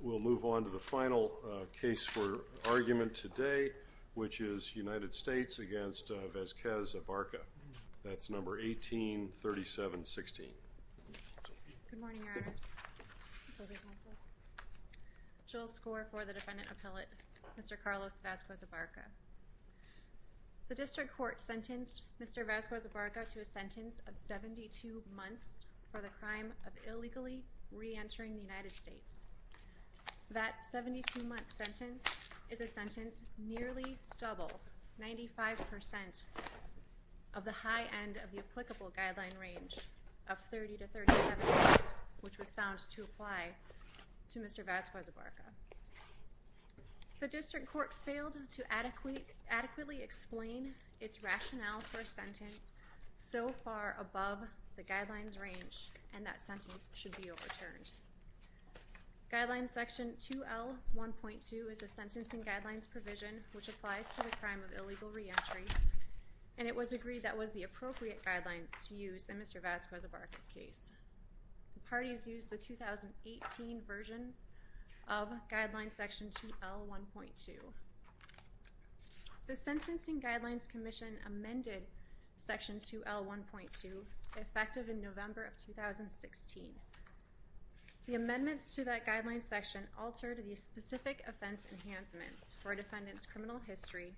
We'll move on to the final case for argument today, which is United States against Vasquez-Abarca. That's number 18-37-16. Good morning, Your Honors. Good morning, Counsel. Jill Skor for the Defendant Appellate, Mr. Carlos Vasquez-Abarca. The District Court sentenced Mr. Vasquez-Abarca to a sentence of 72 months for the crime of illegally re-entering the United States. That 72-month sentence is a sentence nearly double, 95% of the high end of the applicable guideline range of 30-37 months, which was found to apply to Mr. Vasquez-Abarca. The District Court failed to adequately explain its rationale for a sentence so far above the guidelines range, and that sentence should be overturned. Guideline section 2L.1.2 is a sentencing guidelines provision which applies to the crime of illegal re-entry, and it was agreed that was the appropriate guidelines to use in Mr. Vasquez-Abarca's case. The parties used the 2018 version of guideline section 2L.1.2. The Sentencing Guidelines Commission amended section 2L.1.2 effective in November of 2016. The amendments to that guideline section altered the specific offense enhancements for a defendant's criminal history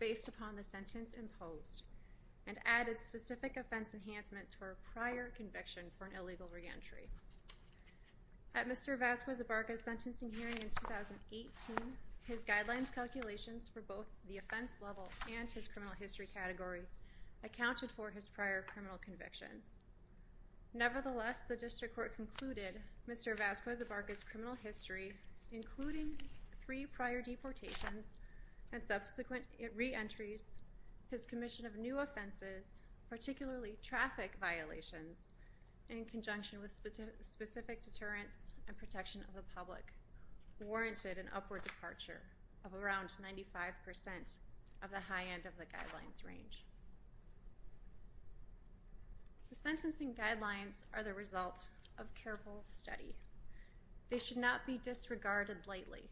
based upon the sentence imposed and added specific offense enhancements for a prior conviction for an illegal re-entry. At Mr. Vasquez-Abarca's sentencing hearing in 2018, his guidelines calculations for both the offense level and his criminal history category accounted for his prior criminal convictions. Nevertheless, the District Court concluded Mr. Vasquez-Abarca's criminal history, including three prior deportations and subsequent re-entries, his commission of new offenses, particularly traffic violations in conjunction with specific deterrence and protection of the public, warranted an upward departure of around 95% of the high end of the guidelines range. The sentencing guidelines are the result of careful study. They should not be disregarded lightly.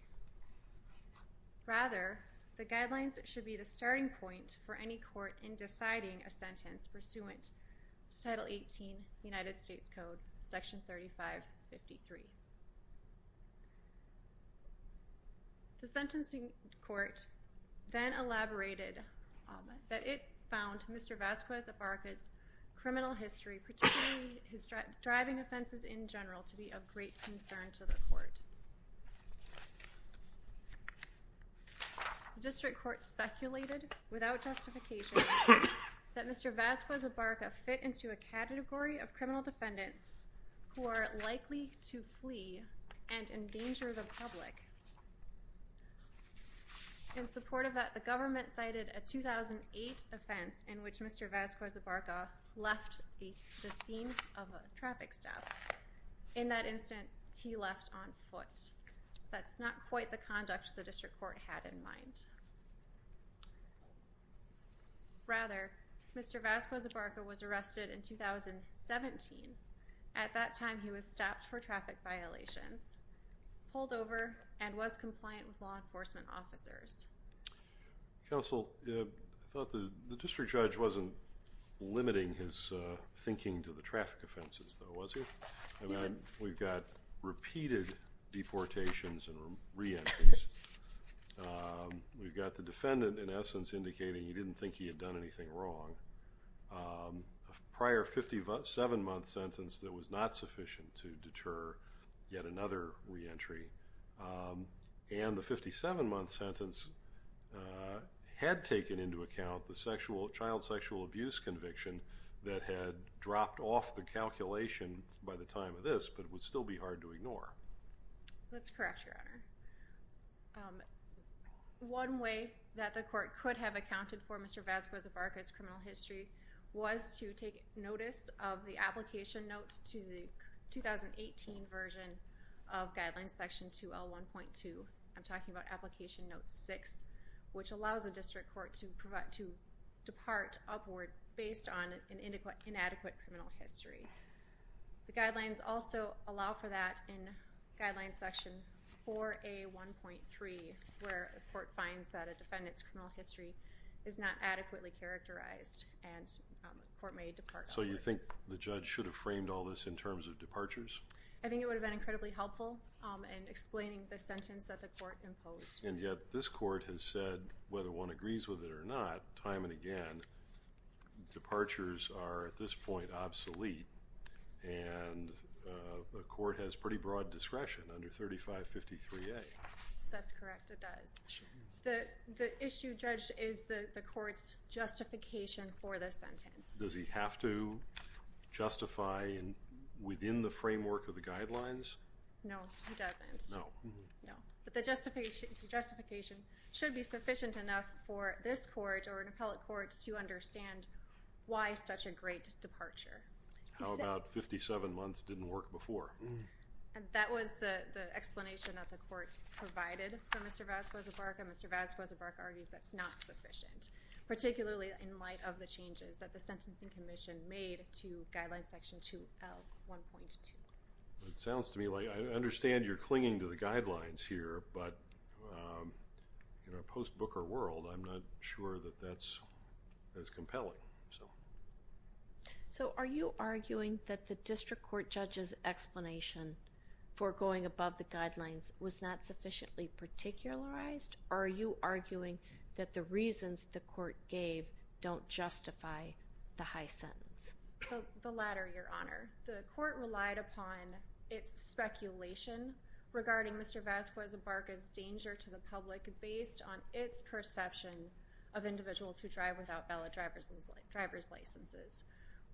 Rather, the guidelines should be the starting point for any court in deciding a sentence pursuant to Title 18, United States Code, Section 3553. The sentencing court then elaborated that it found Mr. Vasquez-Abarca's criminal history, particularly his driving offenses in general, to be of great concern to the court. The District Court speculated, without justification, that Mr. Vasquez-Abarca fit into a category of criminal defendants who are likely to flee and endanger the public. In support of that, the government cited a 2008 offense in which Mr. Vasquez-Abarca left the scene of a traffic stop. In that instance, he left on foot. That's not quite the conduct the District Court had in mind. Rather, Mr. Vasquez-Abarca was arrested in 2017. At that time, he was stopped for traffic violations, pulled over, and was compliant with law enforcement officers. Counsel, I thought the District Judge wasn't limiting his thinking to the traffic offenses, though, was he? Yes. We've got repeated deportations and reentries. We've got the defendant, in essence, indicating he didn't think he had done anything wrong. A prior 57-month sentence that was not sufficient to deter yet another reentry. And the 57-month sentence had taken into account the child sexual abuse conviction that had dropped off the calculation by the time of this, but would still be hard to ignore. That's correct, Your Honor. One way that the court could have accounted for Mr. Vasquez-Abarca's criminal history was to take notice of the application note to the 2018 version of Guidelines Section 2L1.2. I'm talking about Application Note 6, which allows the District Court to depart upward based on an inadequate criminal history. The Guidelines also allow for that in Guidelines Section 4A1.3, where the court finds that a defendant's criminal history is not adequately characterized, and the court may depart upward. So you think the judge should have framed all this in terms of departures? I think it would have been incredibly helpful in explaining the sentence that the court imposed. And yet, this court has said, whether one agrees with it or not, time and again, that departures are, at this point, obsolete, and the court has pretty broad discretion under 3553A. That's correct, it does. The issue, Judge, is the court's justification for the sentence. Does he have to justify within the framework of the Guidelines? No, he doesn't. No. No, but the justification should be sufficient enough for this court or an appellate court to understand why such a great departure. How about 57 months didn't work before? That was the explanation that the court provided for Mr. Vazquez-Obarca. Mr. Vazquez-Obarca argues that's not sufficient, particularly in light of the changes that the Sentencing Commission made to Guidelines Section 2L1.2. It sounds to me like I understand you're clinging to the Guidelines here, but in a post-Booker world, I'm not sure that that's as compelling. So, are you arguing that the district court judge's explanation for going above the Guidelines was not sufficiently particularized, or are you arguing that the reasons the court gave don't justify the high sentence? The latter, Your Honor. The court relied upon its speculation regarding Mr. Vazquez-Obarca's danger to the public based on its perception of individuals who drive without valid driver's licenses,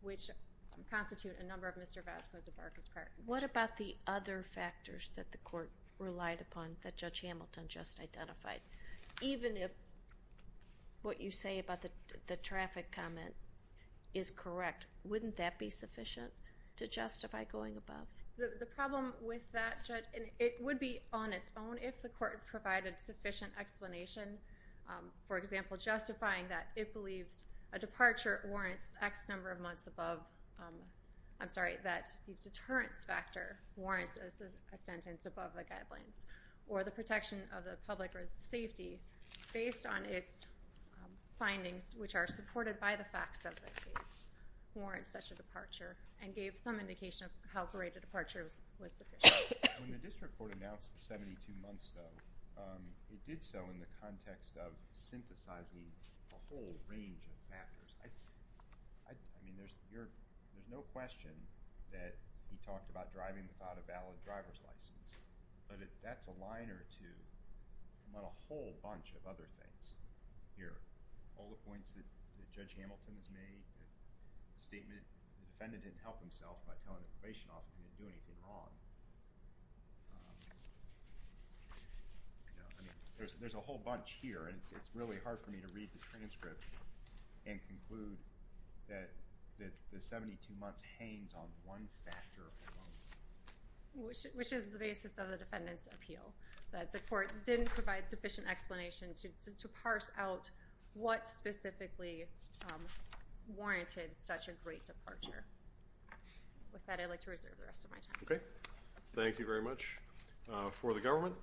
which constitute a number of Mr. Vazquez-Obarca's parts. What about the other factors that the court relied upon that Judge Hamilton just identified? Even if what you say about the traffic comment is correct, wouldn't that be sufficient to justify going above? The problem with that, Judge, and it would be on its own if the court provided sufficient explanation. For example, justifying that it believes a departure warrants X number of months above, I'm sorry, that the deterrence factor warrants a sentence above the Guidelines, or the protection of the public or safety based on its findings, which are supported by the facts of the case, warrants such a departure and gave some indication of how great a departure was sufficient. When the district court announced 72 months, though, it did so in the context of synthesizing a whole range of factors. I mean, there's no question that we talked about driving without a valid driver's license, but that's a liner to a whole bunch of other things here. All the points that Judge Hamilton has made, the statement the defendant didn't help himself by telling the probation officer he was doing anything wrong. I mean, there's a whole bunch here, and it's really hard for me to read the transcript and conclude that the 72 months hangs on one factor alone. Which is the basis of the defendant's appeal, that the court didn't provide sufficient explanation to parse out what specifically warranted such a great departure. With that, I'd like to reserve the rest of my time. Okay. Thank you very much. For the government.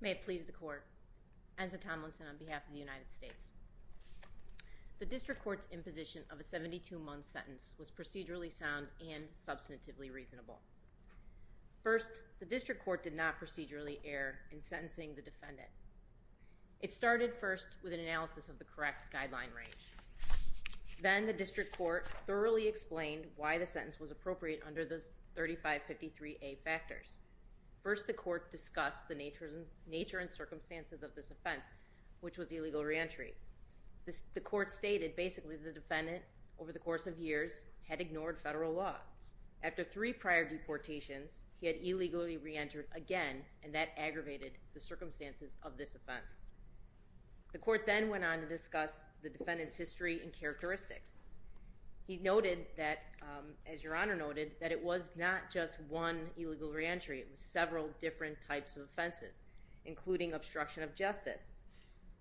May it please the court. Enza Tomlinson on behalf of the United States. The district court's imposition of a 72-month sentence was procedurally sound and substantively reasonable. First, the district court did not procedurally err in sentencing the defendant. It started first with an analysis of the correct guideline range. Then the district court thoroughly explained why the sentence was appropriate under the 3553A factors. First, the court discussed the nature and circumstances of this offense, which was illegal reentry. The court stated basically the defendant, over the course of years, had ignored federal law. After three prior deportations, he had illegally reentered again, and that aggravated the circumstances of this offense. The court then went on to discuss the defendant's history and characteristics. He noted that, as Your Honor noted, that it was not just one illegal reentry. It was several different types of offenses, including obstruction of justice,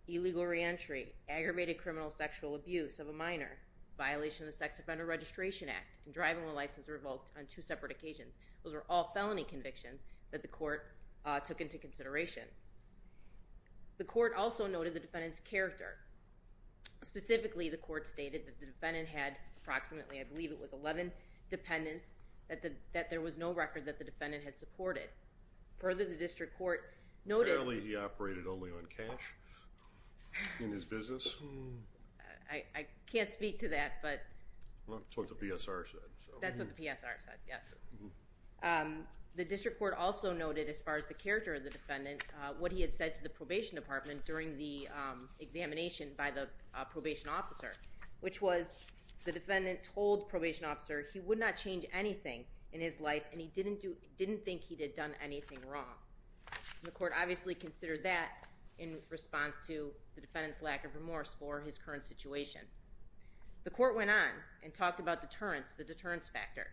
illegal reentry, aggravated criminal sexual abuse of a minor, violation of the Sex Offender Registration Act, and driving with a license revoked on two separate occasions. Those were all felony convictions that the court took into consideration. The court also noted the defendant's character. Specifically, the court stated that the defendant had approximately, I believe it was 11 dependents, that there was no record that the defendant had supported. Further, the district court noted— Apparently, he operated only on cash in his business. I can't speak to that. That's what the PSR said. That's what the PSR said, yes. The district court also noted, as far as the character of the defendant, what he had said to the probation department during the examination by the probation officer, which was the defendant told the probation officer he would not change anything in his life and he didn't think he had done anything wrong. The court obviously considered that in response to the defendant's lack of remorse for his current situation. The court went on and talked about deterrence, the deterrence factor,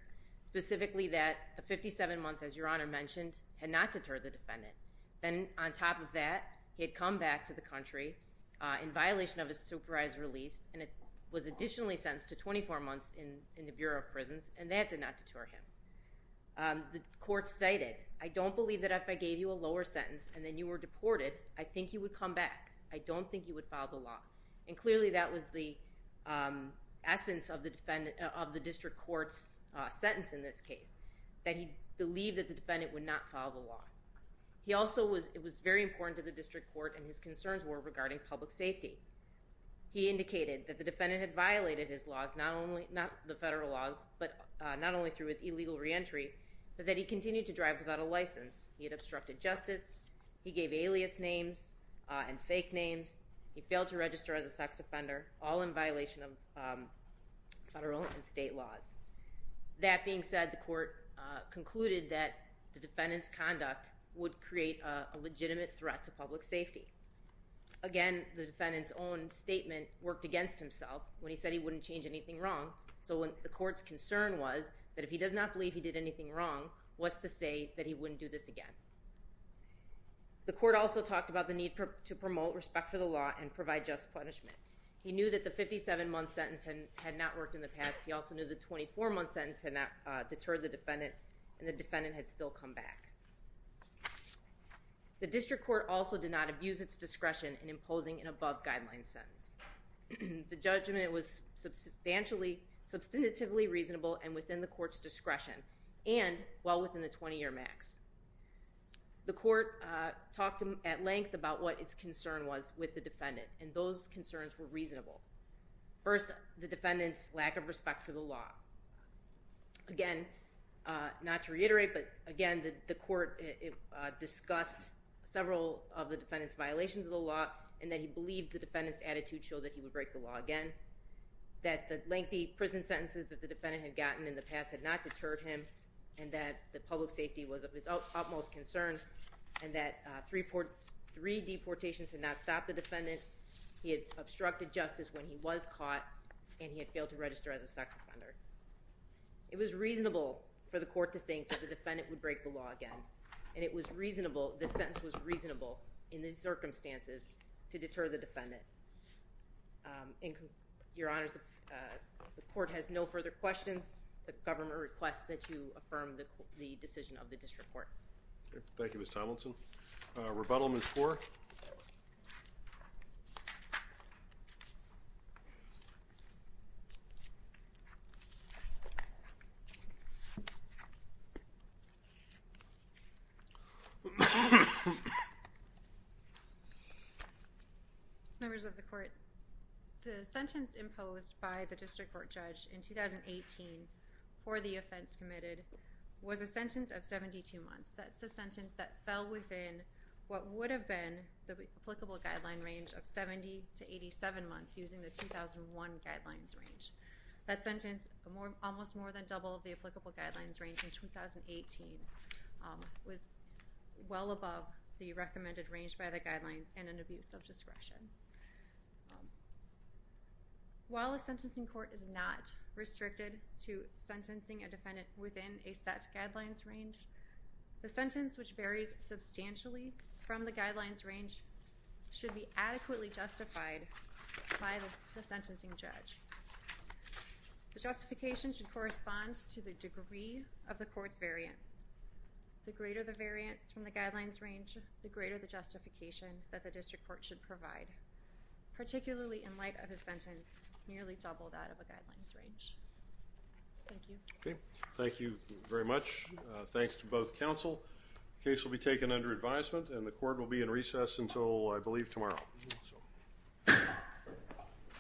specifically that 57 months, as Your Honor mentioned, had not deterred the defendant. Then, on top of that, he had come back to the country in violation of his supervised release, and was additionally sentenced to 24 months in the Bureau of Prisons, and that did not deter him. The court cited, I don't believe that if I gave you a lower sentence and then you were deported, I think you would come back. I don't think you would file the law. Clearly, that was the essence of the district court's sentence in this case, that he believed that the defendant would not file the law. It was very important to the district court and his concerns were regarding public safety. He indicated that the defendant had violated his laws, not only the federal laws, but not only through his illegal reentry, but that he continued to drive without a license. He had obstructed justice. He gave alias names and fake names. He failed to register as a sex offender, all in violation of federal and state laws. That being said, the court concluded that the defendant's conduct would create a legitimate threat to public safety. Again, the defendant's own statement worked against himself when he said he wouldn't change anything wrong. So the court's concern was that if he does not believe he did anything wrong, what's to say that he wouldn't do this again? The court also talked about the need to promote respect for the law and provide just punishment. He knew that the 57-month sentence had not worked in the past. He also knew the 24-month sentence had not deterred the defendant, and the defendant had still come back. The district court also did not abuse its discretion in imposing an above-guideline sentence. The judgment was substantively reasonable and within the court's discretion, and well within the 20-year max. The court talked at length about what its concern was with the defendant, and those concerns were reasonable. First, the defendant's lack of respect for the law. Again, not to reiterate, but again, the court discussed several of the defendant's violations of the law and that he believed the defendant's attitude showed that he would break the law again, that the lengthy prison sentences that the defendant had gotten in the past had not deterred him, and that public safety was of his utmost concern, and that three deportations had not stopped the defendant, he had obstructed justice when he was caught, and he had failed to register as a sex offender. It was reasonable for the court to think that the defendant would break the law again, and it was reasonable, this sentence was reasonable in these circumstances to deter the defendant. Your Honors, the court has no further questions. The government requests that you affirm the decision of the district court. Thank you, Ms. Tomlinson. Rebuttal, Ms. Kaur. Members of the court, the sentence imposed by the district court judge in 2018 for the offense committed was a sentence of 72 months. That's a sentence that fell within what would have been the applicable guideline range of 70 to 87 months using the 2001 guidelines range. That sentence, almost more than double the applicable guidelines range in 2018, was well above the recommended range by the guidelines and an abuse of discretion. While a sentencing court is not restricted to sentencing a defendant within a set guidelines range, the sentence which varies substantially from the guidelines range should be adequately justified by the sentencing judge. The justification should correspond to the degree of the court's variance. The greater the variance from the guidelines range, the greater the justification that the district court should provide, particularly in light of a sentence nearly double that of a guidelines range. Thank you. Thank you very much. Thanks to both counsel. The case will be taken under advisement, and the court will be in recess until, I believe, tomorrow.